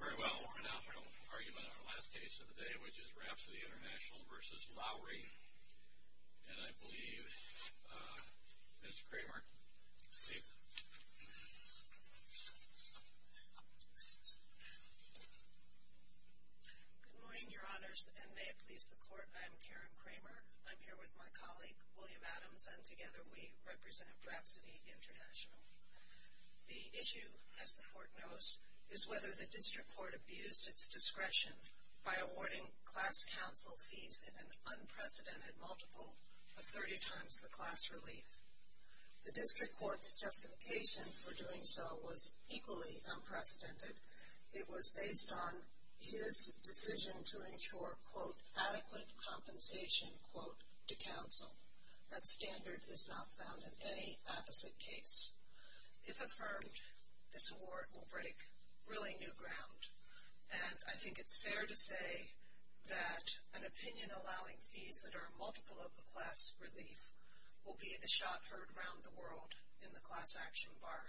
Very well, we're now going to argue about our last case of the day, which is Rhapsody International v. Lowery. And I believe Ms. Kramer, please. Good morning, Your Honors, and may it please the Court, I am Karen Kramer. I'm here with my colleague, William Adams, and together we represent Rhapsody International. The issue, as the Court knows, is whether the District Court abused its discretion by awarding class counsel fees in an unprecedented multiple of 30 times the class relief. The District Court's justification for doing so was equally unprecedented. It was based on his decision to ensure, quote, adequate compensation, quote, to counsel. That standard is not found in any opposite case. If affirmed, this award will break really new ground. And I think it's fair to say that an opinion allowing fees that are multiple of the class relief will be the shot heard around the world in the class action bar.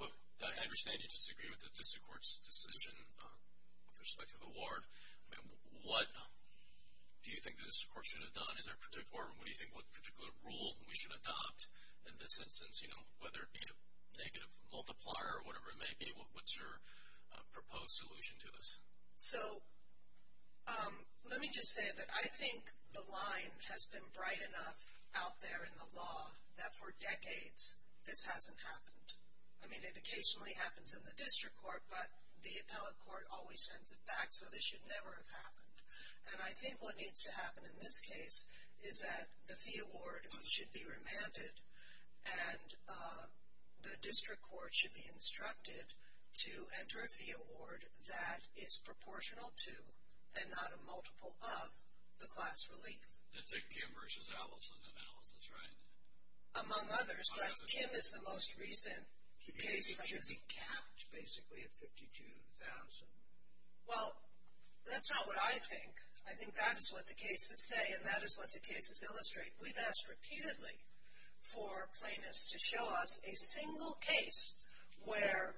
Well, I understand you disagree with the District Court's decision with respect to the award. What do you think this Court should have done? Or what do you think what particular rule we should adopt in this instance, whether it be a negative multiplier or whatever it may be? What's your proposed solution to this? So let me just say that I think the line has been bright enough out there in the law that for decades this hasn't happened. I mean, it occasionally happens in the District Court, but the appellate court always sends it back, so this should never have happened. And I think what needs to happen in this case is that the fee award should be remanded and the District Court should be instructed to enter a fee award that is proportional to and not a multiple of the class relief. That's a Kim versus Allison analysis, right? Among others, but Kim is the most recent case. It should be capped basically at $52,000. Well, that's not what I think. I think that is what the cases say, and that is what the cases illustrate. We've asked repeatedly for plaintiffs to show us a single case where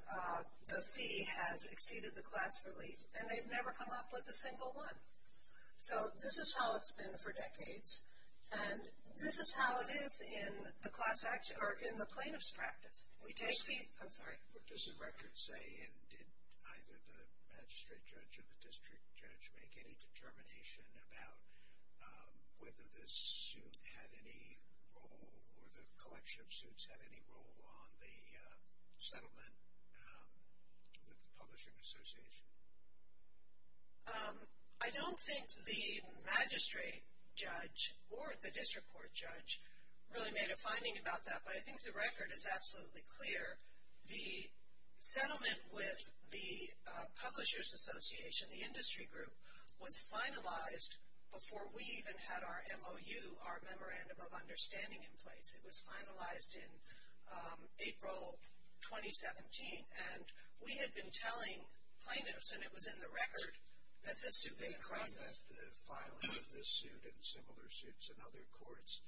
the fee has exceeded the class relief, and they've never come up with a single one. So this is how it's been for decades, and this is how it is in the plaintiff's practice. I'm sorry. What does the record say, and did either the magistrate judge or the district judge make any determination about whether this suit had any role or the collection of suits had any role on the settlement with the publishing association? I don't think the magistrate judge or the district court judge really made a finding about that, but I think the record is absolutely clear. The settlement with the publishers association, the industry group, was finalized before we even had our MOU, our memorandum of understanding in place. It was finalized in April 2017, and we had been telling plaintiffs, and it was in the record, that this suit was in process. Was it evident that the filing of this suit and similar suits in other courts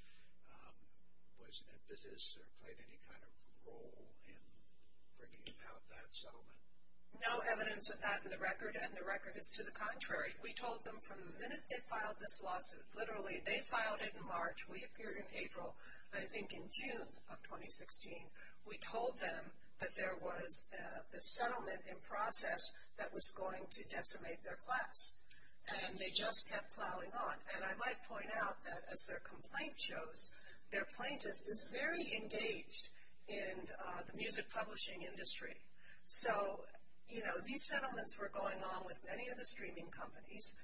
was an impetus or played any kind of role in bringing about that settlement? No evidence of that in the record, and the record is to the contrary. We told them from the minute they filed this lawsuit, literally, they filed it in March. We appeared in April, I think in June of 2016. We told them that there was the settlement in process that was going to decimate their class, and they just kept plowing on. And I might point out that, as their complaint shows, their plaintiff is very engaged in the music publishing industry. So, you know, these settlements were going on with many of the streaming companies,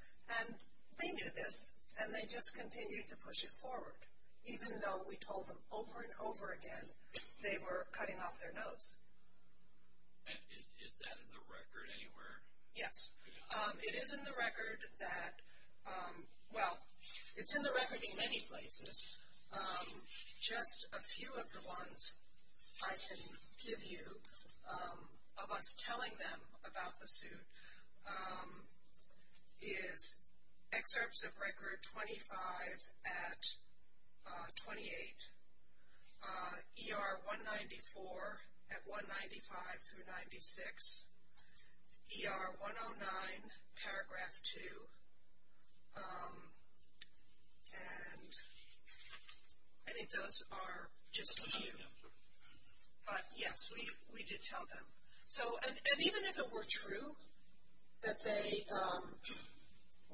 and they knew this, and they just continued to push it forward, even though we told them over and over again they were cutting off their nose. Is that in the record anywhere? Yes. It is in the record that, well, it's in the record in many places. Just a few of the ones I can give you of us telling them about the suit is Excerpts of Record 25 at 28, ER 194 at 195 through 96, ER 109, Paragraph 2, and I think those are just a few. But, yes, we did tell them. So, and even if it were true that they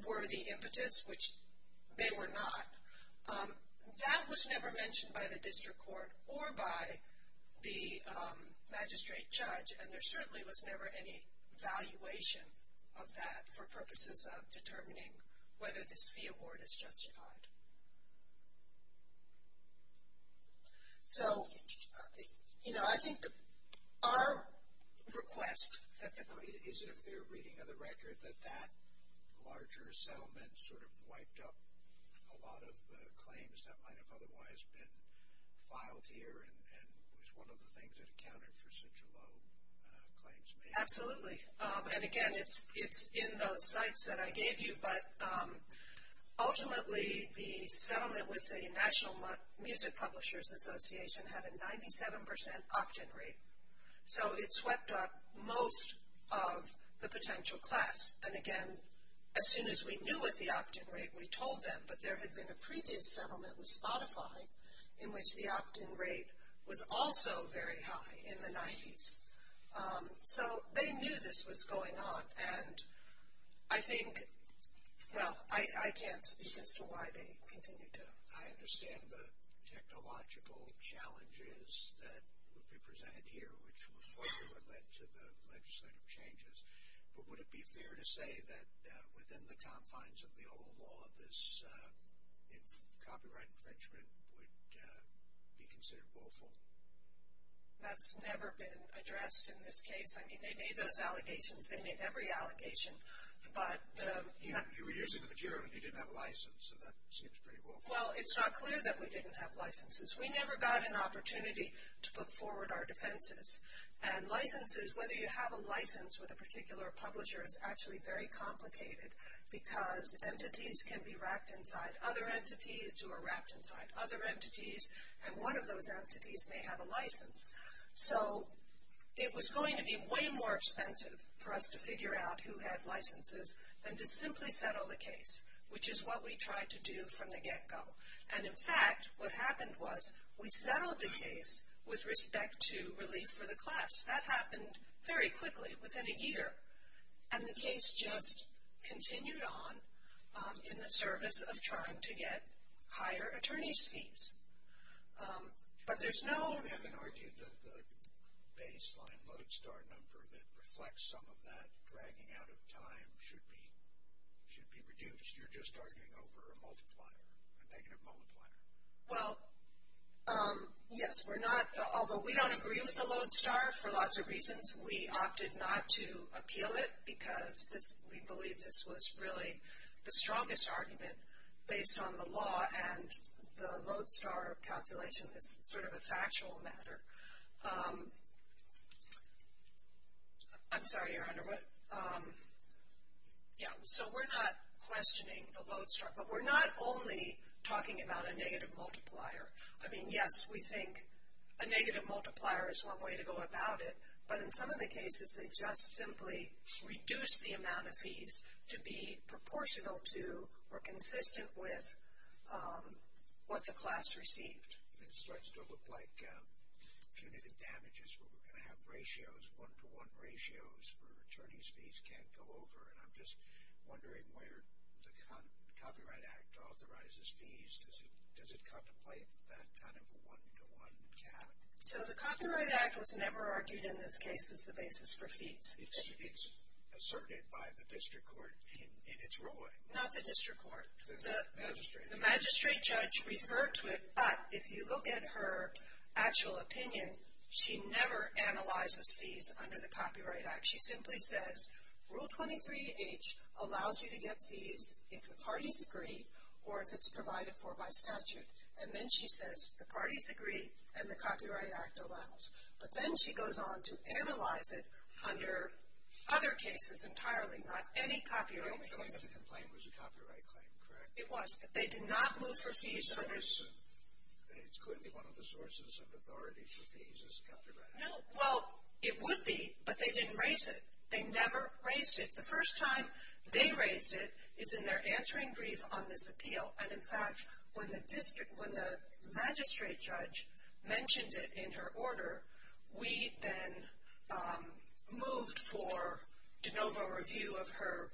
were the impetus, which they were not, that was never mentioned by the district court or by the magistrate judge, and there certainly was never any valuation of that for purposes of determining whether this fee award is justified. So, you know, I think our request at the time. Is it a fair reading of the record that that larger settlement sort of wiped up a lot of claims that might have otherwise been filed here and was one of the things that accounted for such a low claims made? Absolutely. And, again, it's in those sites that I gave you. But, ultimately, the settlement with the National Music Publishers Association had a 97% opt-in rate. So, it swept up most of the potential class. And, again, as soon as we knew what the opt-in rate, we told them. But, there had been a previous settlement with Spotify in which the opt-in rate was also very high in the 90s. So, they knew this was going on. And, I think, well, I can't speak as to why they continued to. I understand the technological challenges that would be presented here, which was what would have led to the legislative changes. But, would it be fair to say that within the confines of the old law, this copyright infringement would be considered willful? That's never been addressed in this case. I mean, they made those allegations. They made every allegation. But, you know. You were using the material and you didn't have a license. So, that seems pretty willful. Well, it's not clear that we didn't have licenses. We never got an opportunity to put forward our defenses. And, licenses, whether you have a license with a particular publisher, is actually very complicated because entities can be wrapped inside other entities who are wrapped inside other entities. And, one of those entities may have a license. So, it was going to be way more expensive for us to figure out who had licenses than to simply settle the case, which is what we tried to do from the get-go. And, in fact, what happened was we settled the case with respect to relief for the class. That happened very quickly, within a year. And, the case just continued on in the service of trying to get higher attorney's fees. But, there's no. You haven't argued that the baseline Lodestar number that reflects some of that dragging out of time should be reduced. You're just arguing over a multiplier, a negative multiplier. Well, yes. We're not. Although, we don't agree with the Lodestar for lots of reasons. We opted not to appeal it because we believe this was really the strongest argument based on the law. And, the Lodestar calculation is sort of a factual matter. I'm sorry, Your Honor. But, yeah. So, we're not questioning the Lodestar. But, we're not only talking about a negative multiplier. I mean, yes, we think a negative multiplier is one way to go about it. But, in some of the cases, they just simply reduce the amount of fees to be proportional to or consistent with what the class received. It starts to look like punitive damages where we're going to have ratios, one-to-one ratios for attorney's fees can't go over. And, I'm just wondering where the Copyright Act authorizes fees. Does it contemplate that kind of a one-to-one cap? So, the Copyright Act was never argued in this case as the basis for fees. It's asserted by the district court in its ruling. Not the district court. The magistrate. The magistrate judge referred to it. But, if you look at her actual opinion, she never analyzes fees under the Copyright Act. She simply says, Rule 23H allows you to get fees if the parties agree or if it's provided for by statute. And then, she says, the parties agree and the Copyright Act allows. But then, she goes on to analyze it under other cases entirely, not any copyright case. The only claim to complain was a copyright claim, correct? It was, but they did not move for fees. So, it's clearly one of the sources of authority for fees is the Copyright Act. No, well, it would be, but they didn't raise it. They never raised it. The first time they raised it is in their answering brief on this appeal. And, in fact, when the magistrate judge mentioned it in her order, we then moved for de novo review of her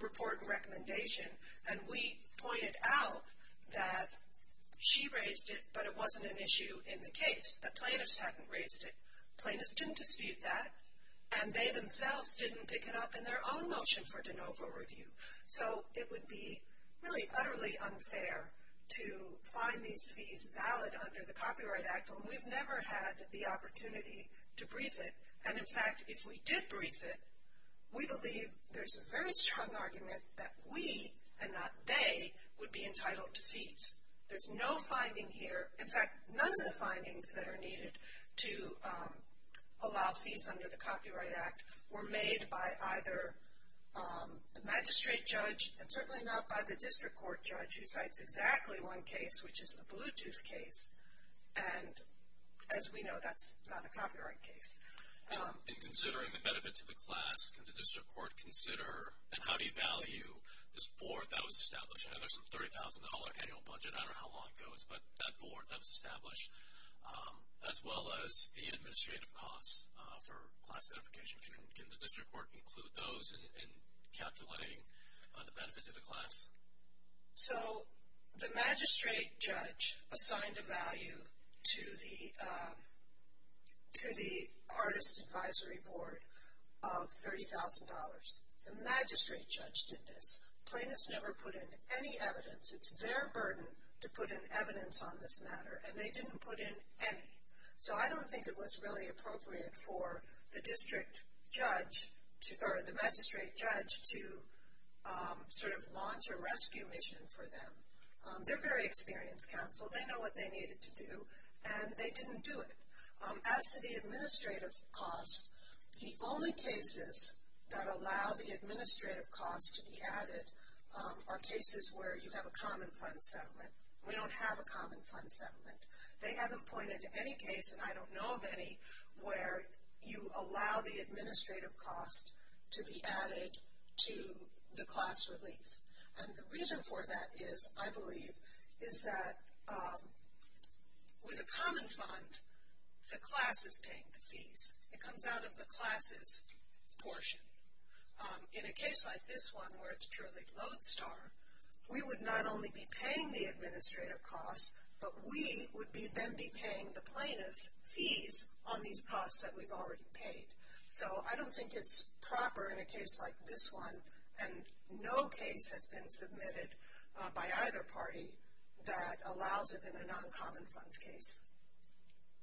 report and recommendation. And, we pointed out that she raised it, but it wasn't an issue in the case. The plaintiffs hadn't raised it. Plaintiffs didn't dispute that. And, they themselves didn't pick it up in their own motion for de novo review. So, it would be really utterly unfair to find these fees valid under the Copyright Act when we've never had the opportunity to brief it. And, in fact, if we did brief it, we believe there's a very strong argument that we, and not they, would be entitled to fees. There's no finding here. In fact, none of the findings that are needed to allow fees under the Copyright Act were made by either the magistrate judge and certainly not by the district court judge who cites exactly one case, which is the Bluetooth case. And, as we know, that's not a copyright case. And, considering the benefit to the class, can the district court consider, and how do you value this board that was established? I know there's a $30,000 annual budget. I don't know how long it goes, but that board that was established, as well as the administrative costs for class certification. Can the district court include those in calculating the benefit to the class? So, the magistrate judge assigned a value to the artist advisory board of $30,000. The magistrate judge did this. Plaintiffs never put in any evidence. It's their burden to put in evidence on this matter, and they didn't put in any. So, I don't think it was really appropriate for the district judge, or the magistrate judge, to sort of launch a rescue mission for them. They're very experienced counsel. They know what they needed to do, and they didn't do it. As to the administrative costs, the only cases that allow the administrative costs to be added are cases where you have a common fund settlement. We don't have a common fund settlement. They haven't pointed to any case, and I don't know of any, where you allow the administrative costs to be added to the class relief. And the reason for that is, I believe, is that with a common fund, the class is paying the fees. It comes out of the class's portion. In a case like this one, where it's purely Lodestar, we would not only be paying the administrative costs, but we would then be paying the plaintiff's fees on these costs that we've already paid. So, I don't think it's proper in a case like this one, and no case has been submitted by either party that allows it in a non-common fund case.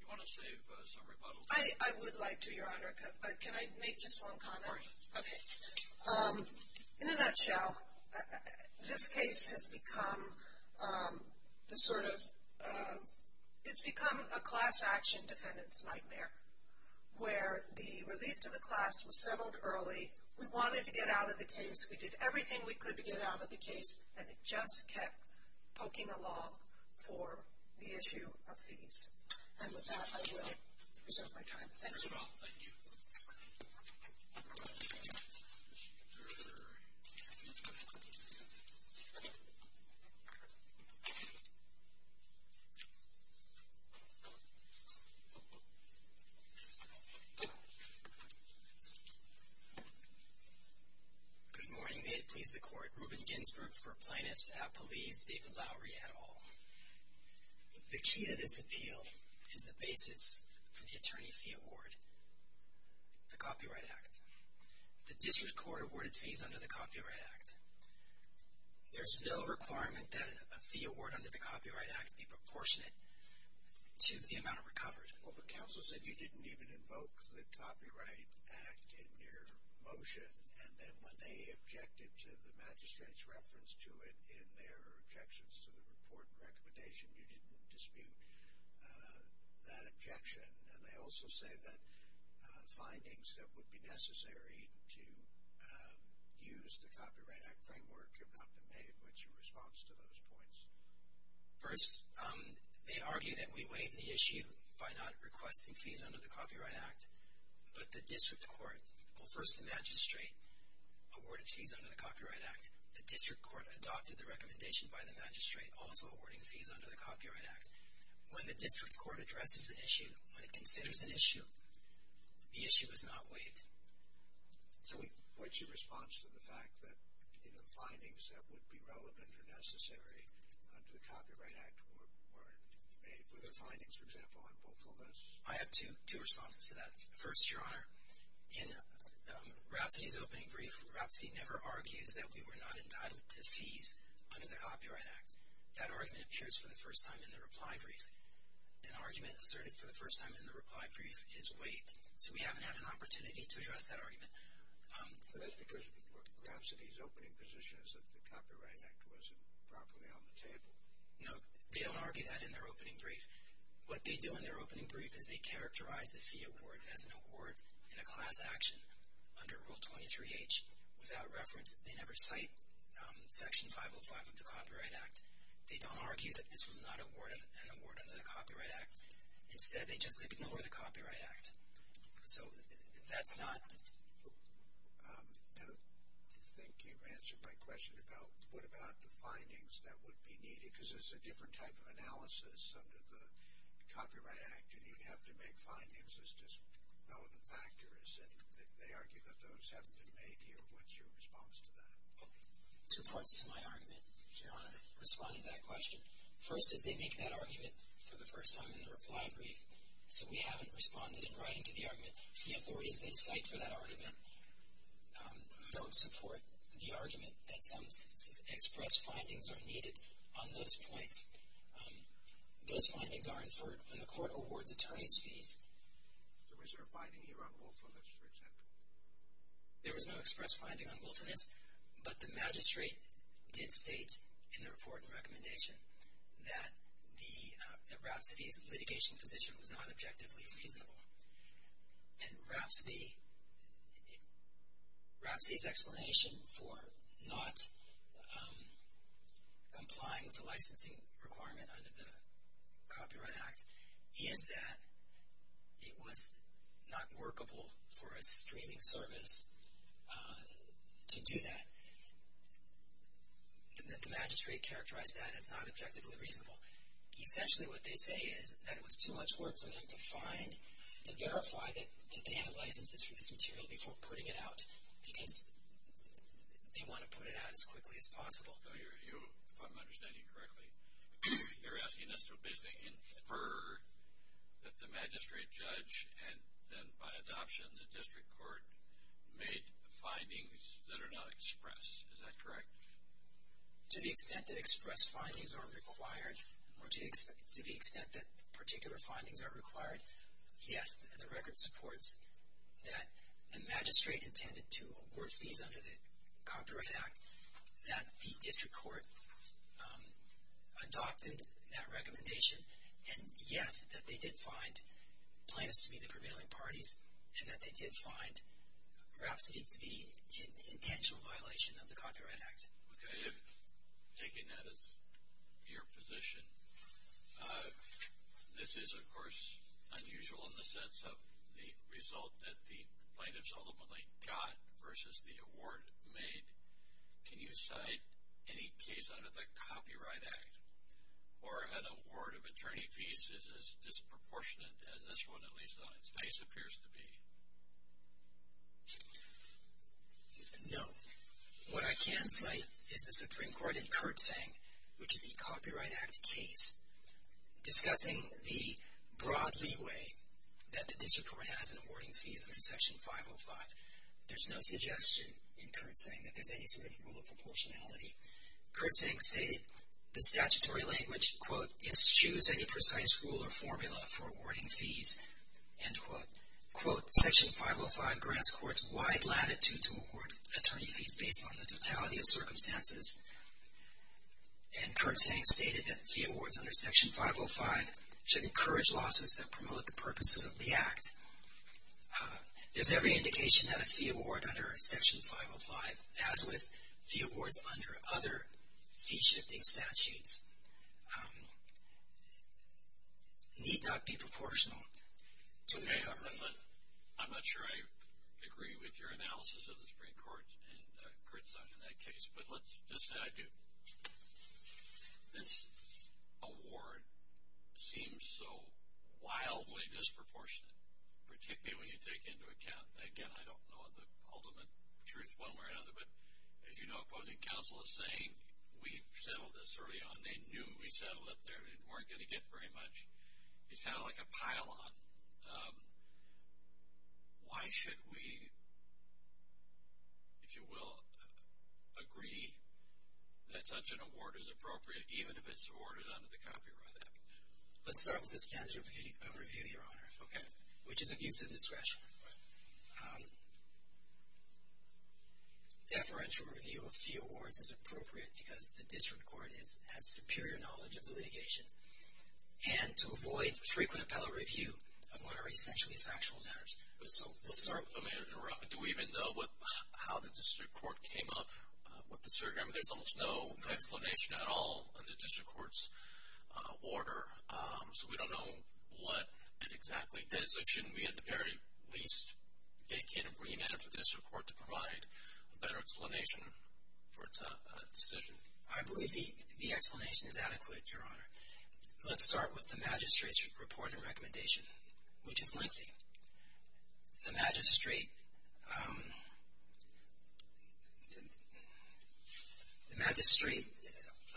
You want to save some rebuttals? I would like to, Your Honor. Can I make just one comment? Of course. Okay. In a nutshell, this case has become a class action defendant's nightmare, where the relief to the class was settled early. We wanted to get out of the case. We did everything we could to get out of the case, and it just kept poking along for the issue of fees. And with that, I will reserve my time. Thank you. Thank you. Good morning. May it please the Court. Reuben Ginsberg for Plaintiffs Appellees, David Lowery et al. The key to this appeal is the basis for the attorney fee award, the Copyright Act. The district court awarded fees under the Copyright Act. There's no requirement that a fee award under the Copyright Act be proportionate to the amount of recovery. Well, but counsel said you didn't even invoke the Copyright Act in your motion, and then when they objected to the magistrate's reference to it in their objections to the report and recommendation, you didn't dispute that objection. And I also say that findings that would be necessary to use the Copyright Act framework have not been made, what's your response to those points? First, they argue that we waived the issue by not requesting fees under the Copyright Act. But the district court, well, first the magistrate awarded fees under the Copyright Act. The district court adopted the recommendation by the magistrate also awarding fees under the Copyright Act. When the district court addresses an issue, when it considers an issue, the issue is not waived. So what's your response to the fact that, you know, findings that would be relevant or necessary under the Copyright Act weren't made? Were there findings, for example, on both of those? I have two responses to that. First, Your Honor, in Rapsody's opening brief, Rapsody never argues that we were not entitled to fees under the Copyright Act. That argument appears for the first time in the reply brief. An argument asserted for the first time in the reply brief is waived. So we haven't had an opportunity to address that argument. But that's because Rapsody's opening position is that the Copyright Act wasn't properly on the table. No, they don't argue that in their opening brief. What they do in their opening brief is they characterize the fee award as an award in a class action under Rule 23H without reference. They never cite Section 505 of the Copyright Act. They don't argue that this was not an award under the Copyright Act. Instead, they just ignore the Copyright Act. So that's not – I don't think you've answered my question about what about the findings that would be needed, because it's a different type of analysis under the Copyright Act, and you'd have to make findings as just relevant factors. And they argue that those haven't been made here. What's your response to that? Two parts to my argument, Your Honor, in responding to that question. First is they make that argument for the first time in the reply brief, so we haven't responded in writing to the argument. The authorities they cite for that argument don't support the argument that some express findings are needed on those points. Those findings are inferred when the court awards attorneys' fees. Was there a finding here on willfulness, for example? There was no express finding on willfulness, but the magistrate did state in the report and recommendation that Rapsody's litigation position was not objectively reasonable. And Rapsody's explanation for not complying with the licensing requirement under the Copyright Act is that it was not workable for a streaming service to do that. The magistrate characterized that as not objectively reasonable. Essentially what they say is that it was too much work for them to find, to verify that they have licenses for this material before putting it out because they want to put it out as quickly as possible. If I'm understanding correctly, you're asking us to basically infer that the magistrate judge and then by adoption the district court made findings that are not expressed. Is that correct? To the extent that express findings are required, or to the extent that particular findings are required, yes, the record supports that the magistrate intended to award fees under the Copyright Act, that the district court adopted that recommendation, and yes, that they did find plaintiffs to be the prevailing parties, and that they did find Rapsody to be in intentional violation of the Copyright Act. Okay. Taking that as your position, this is, of course, unusual in the sense of the result that the plaintiffs ultimately got versus the award made. Can you cite any case under the Copyright Act where an award of attorney fees is as disproportionate as this one, at least on its face, appears to be? No. What I can cite is the Supreme Court in Kurtzing, which is a Copyright Act case, discussing the broad leeway that the district court has in awarding fees under Section 505. There's no suggestion in Kurtzing that there's any sort of rule of proportionality. Kurtzing stated the statutory language, quote, eschews any precise rule or formula for awarding fees, end quote. Quote, Section 505 grants courts wide latitude to award attorney fees based on the totality of circumstances, and Kurtzing stated that fee awards under Section 505 should encourage lawsuits that promote the purposes of the Act. There's every indication that a fee award under Section 505, as with fee awards under other fee-shifting statutes, need not be proportional to the government. I'm not sure I agree with your analysis of the Supreme Court and Kurtzing in that case, but let's just say I do. This award seems so wildly disproportionate, particularly when you take into account, again, I don't know the ultimate truth one way or another, but as you know, opposing counsel is saying we settled this early on. They knew we settled it. They weren't going to get very much. It's kind of like a pile-on. Why should we, if you will, agree that such an award is appropriate even if it's awarded under the Copyright Act? Let's start with the standard of review, Your Honor, which is abuse of discretion. Deferential review of fee awards is appropriate because the district court has superior knowledge of the litigation, and to avoid frequent appellate review of what are essentially factual matters. We'll start with that. Do we even know how the district court came up with the surrogate? Mr. Chairman, there's almost no explanation at all in the district court's order, so we don't know what it exactly is. So shouldn't we at the very least vacate a remand for the district court to provide a better explanation for its decision? I believe the explanation is adequate, Your Honor. Let's start with the magistrate's report and recommendation, which is lengthy. The magistrate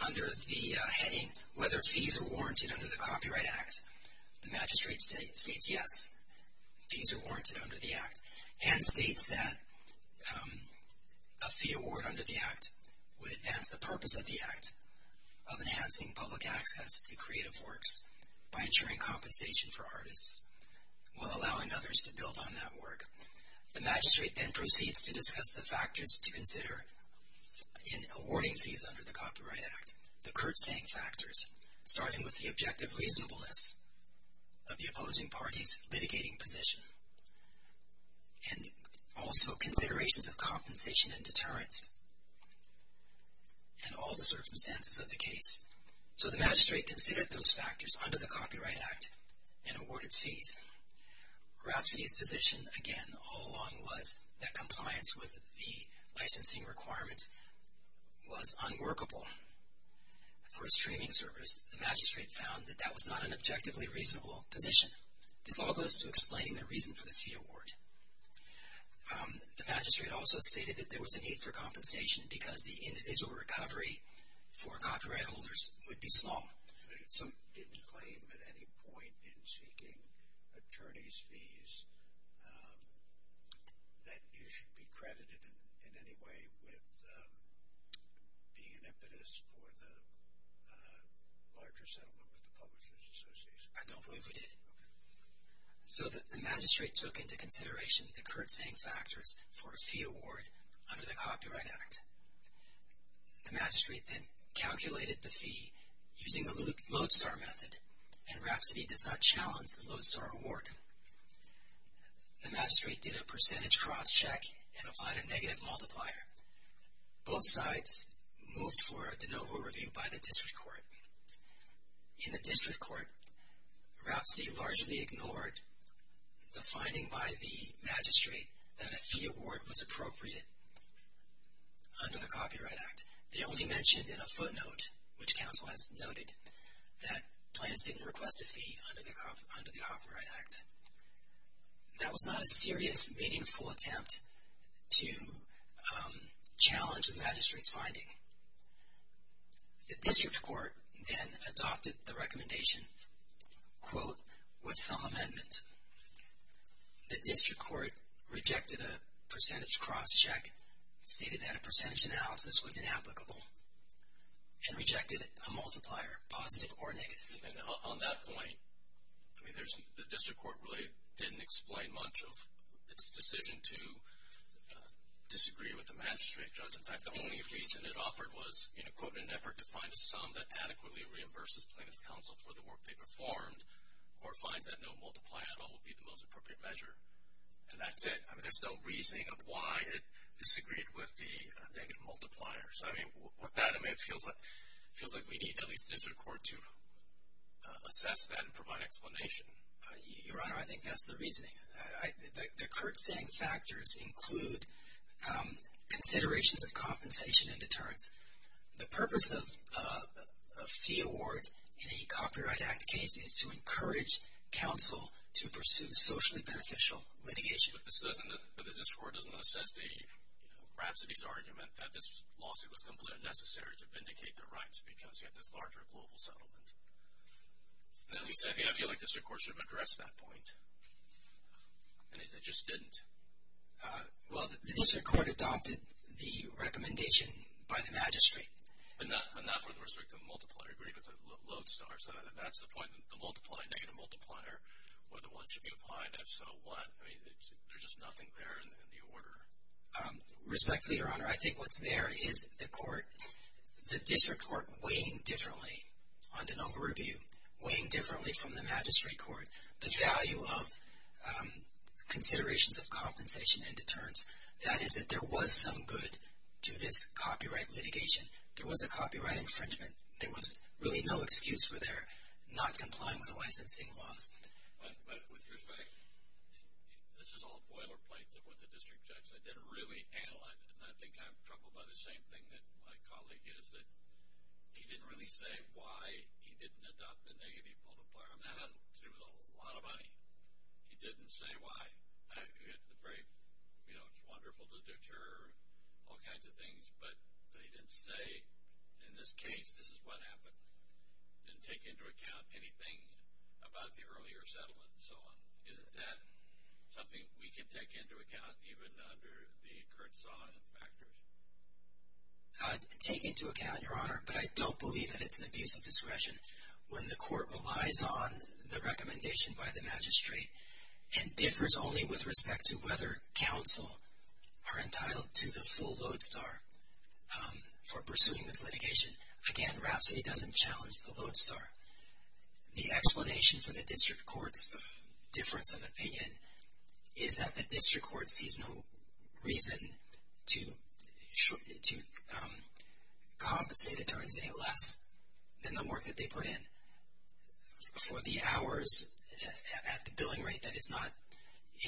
under the heading, whether fees are warranted under the Copyright Act, the magistrate states yes, fees are warranted under the Act, and states that a fee award under the Act would advance the purpose of the Act of enhancing public access to creative works by ensuring compensation for artists while allowing others to build on that work. The magistrate then proceeds to discuss the factors to consider in awarding fees under the Copyright Act, the curtsaying factors, starting with the objective reasonableness of the opposing party's litigating position and also considerations of compensation and deterrence and all the circumstances of the case. So the magistrate considered those factors under the Copyright Act and awarded fees. Rapsody's position, again, all along was that compliance with the licensing requirements was unworkable for a streaming service. The magistrate found that that was not an objectively reasonable position. This all goes to explaining the reason for the fee award. The magistrate also stated that there was a need for compensation because the individual recovery for copyright holders would be small. So you didn't claim at any point in seeking attorney's fees that you should be credited in any way with being an impetus for the larger settlement with the Publishers Association? I don't believe we did. So the magistrate took into consideration the curtsaying factors for a fee award under the Copyright Act. The magistrate then calculated the fee using the lodestar method, and Rapsody does not challenge the lodestar award. The magistrate did a percentage cross-check and applied a negative multiplier. Both sides moved for a de novo review by the district court. In the district court, Rapsody largely ignored the finding by the magistrate that a fee award was appropriate under the Copyright Act. They only mentioned in a footnote, which counsel has noted, that plans didn't request a fee under the Copyright Act. That was not a serious, meaningful attempt to challenge the magistrate's finding. With some amendment, the district court rejected a percentage cross-check, stated that a percentage analysis was inapplicable, and rejected a multiplier, positive or negative. And on that point, the district court really didn't explain much of its decision to disagree with the magistrate judge. In an effort to find a sum that adequately reimburses plaintiff's counsel for the work they performed, the court finds that no multiplier at all would be the most appropriate measure. And that's it. I mean, there's no reasoning of why it disagreed with the negative multipliers. I mean, with that, it feels like we need at least the district court to assess that and provide explanation. Your Honor, I think that's the reasoning. The current saying factors include considerations of compensation and deterrence. The purpose of a fee award in a Copyright Act case is to encourage counsel to pursue socially beneficial litigation. But the district court doesn't assess the rhapsody's argument that this lawsuit was completely unnecessary to vindicate their rights because you have this larger global settlement. Now you say, I feel like the district court should have addressed that point. And it just didn't. Well, the district court adopted the recommendation by the magistrate. But not for the restrictive multiplier. It agreed with the lodestar, so that's the point. The multiplier, negative multiplier, whether one should be applied, if so, what? I mean, there's just nothing there in the order. Respectfully, Your Honor, I think what's there is the court, the district court weighing differently on de novo review, weighing differently from the magistrate court. The value of considerations of compensation and deterrence, that is that there was some good to this copyright litigation. There was a copyright infringement. There was really no excuse for their not complying with the licensing laws. But with respect, this is all boilerplate with the district judge. They didn't really analyze it. And I think I'm troubled by the same thing that my colleague is, that he didn't really say why he didn't adopt the negative multiplier. That had to do with a lot of money. He didn't say why. You know, it's wonderful to deter all kinds of things, but he didn't say, in this case, this is what happened. He didn't take into account anything about the earlier settlement and so on. Isn't that something we can take into account, even under the current song and factors? Take into account, Your Honor, but I don't believe that it's an abuse of discretion. When the court relies on the recommendation by the magistrate and differs only with respect to whether counsel are entitled to the full Lodestar for pursuing this litigation, again, Rhapsody doesn't challenge the Lodestar. The explanation for the district court's difference of opinion is that the district court sees no reason to compensate attorneys any less than the work that they put in. For the hours at the billing rate that is not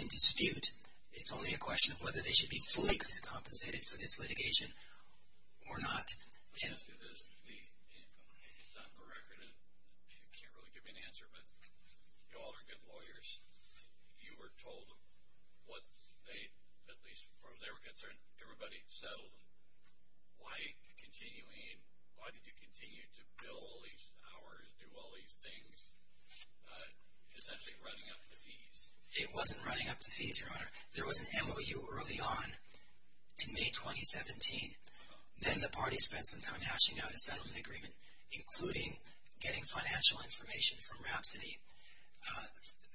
in dispute, it's only a question of whether they should be fully compensated for this litigation or not. Let me ask you this. It's on the record, and you can't really give me an answer, but you all are good lawyers. You were told what they, at least as far as they were concerned, everybody had settled. Why did you continue to bill all these hours, do all these things, essentially running up the fees? It wasn't running up the fees, Your Honor. There was an MOU early on in May 2017. Then the party spent some time hashing out a settlement agreement, including getting financial information from Rhapsody.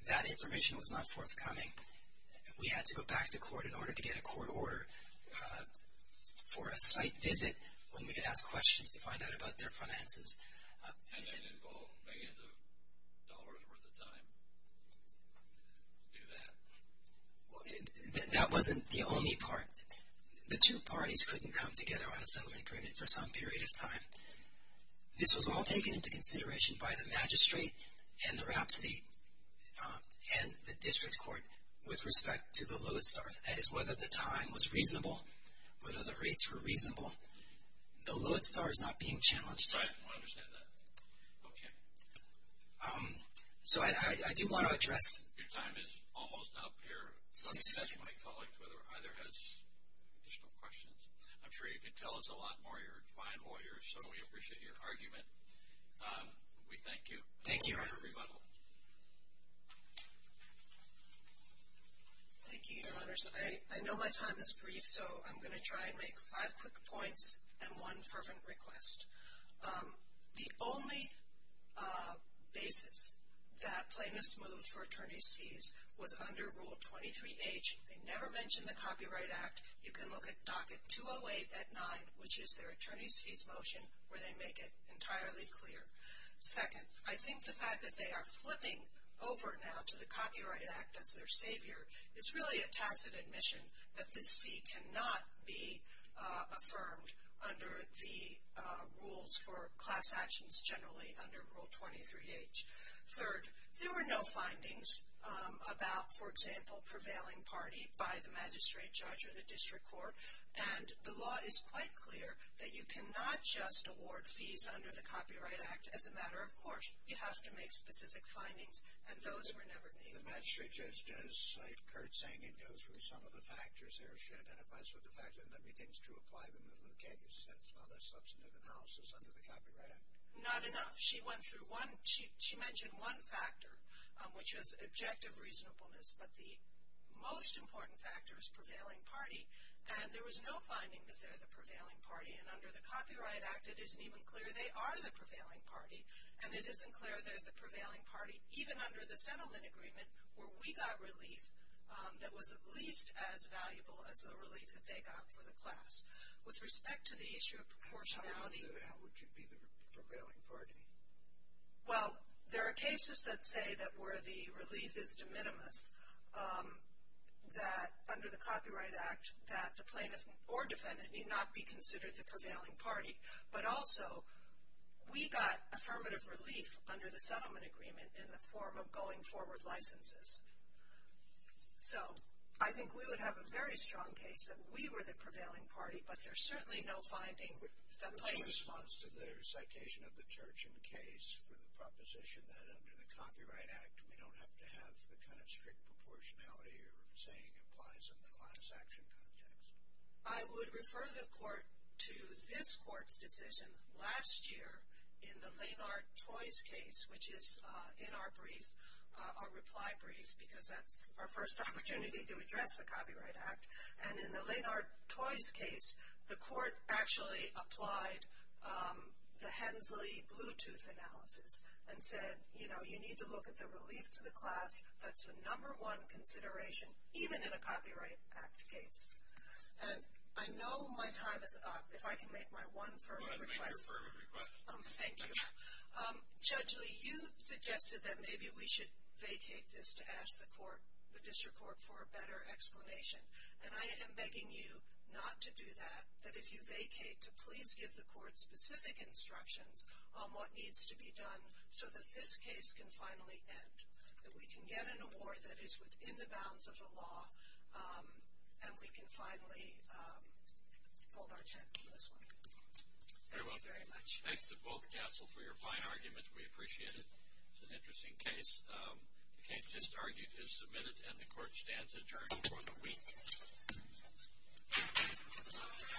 That information was not forthcoming. We had to go back to court in order to get a court order for a site visit when we could ask questions to find out about their finances. And then involve millions of dollars' worth of time to do that? That wasn't the only part. The two parties couldn't come together on a settlement agreement for some period of time. This was all taken into consideration by the magistrate and the Rhapsody and the district court with respect to the Lewitt Star. That is, whether the time was reasonable, whether the rates were reasonable, the Lewitt Star is not being challenged. Right, I understand that. Okay. So I do want to address— Your time is almost up here. Six seconds. My colleague either has additional questions. I'm sure you can tell us a lot more. You're a fine lawyer, so we appreciate your argument. We thank you. Thank you, Your Honor. Thank you, Your Honors. I know my time is brief, so I'm going to try and make five quick points and one fervent request. The only basis that plaintiffs moved for attorney's fees was under Rule 23H. They never mentioned the Copyright Act. You can look at Docket 208 at 9, which is their attorney's fees motion, where they make it entirely clear. Second, I think the fact that they are flipping over now to the Copyright Act as their savior is really a tacit admission that this fee cannot be affirmed under the rules for class actions generally under Rule 23H. Third, there were no findings about, for example, prevailing party by the magistrate judge or the district court, and the law is quite clear that you cannot just award fees under the Copyright Act as a matter of course. You have to make specific findings, and those were never made. The magistrate judge does, like Kurt's saying, it goes through some of the factors there. She identifies with the factors, and then begins to apply them in the case. That's not a substantive analysis under the Copyright Act. Not enough. She went through one. She mentioned one factor, which was objective reasonableness, but the most important factor is prevailing party, and there was no finding that they're the prevailing party, and under the Copyright Act, it isn't even clear they are the prevailing party, and it isn't clear they're the prevailing party even under the settlement agreement where we got relief that was at least as valuable as the relief that they got for the class. With respect to the issue of proportionality. How would you be the prevailing party? Well, there are cases that say that where the relief is de minimis, that under the Copyright Act, that the plaintiff or defendant need not be considered the prevailing party, but also we got affirmative relief under the settlement agreement in the form of going forward licenses. So, I think we would have a very strong case that we were the prevailing party, but there's certainly no finding that plaintiffs. What's your response to their citation of the Turchin case for the proposition that under the Copyright Act, we don't have to have the kind of strict proportionality you're saying applies in the class action context? I would refer the court to this court's decision last year in the Lenard-Troys case, which is in our brief, our reply brief, because that's our first opportunity to address the Copyright Act. And in the Lenard-Troys case, the court actually applied the Hensley Bluetooth analysis and said, you know, you need to look at the relief to the class. That's the number one consideration, even in a Copyright Act case. And I know my time is up. If I can make my one firm request. Go ahead, make your firm request. Thank you. Judge Lee, you suggested that maybe we should vacate this to ask the court, the district court, for a better explanation. And I am begging you not to do that, that if you vacate, to please give the court specific instructions on what needs to be done so that this case can finally end, that we can get an award that is within the bounds of the law, and we can finally fold our tent on this one. Thank you very much. Thanks to both counsel for your fine arguments. We appreciate it. It's an interesting case. The case just argued is submitted, and the court stands adjourned for the week.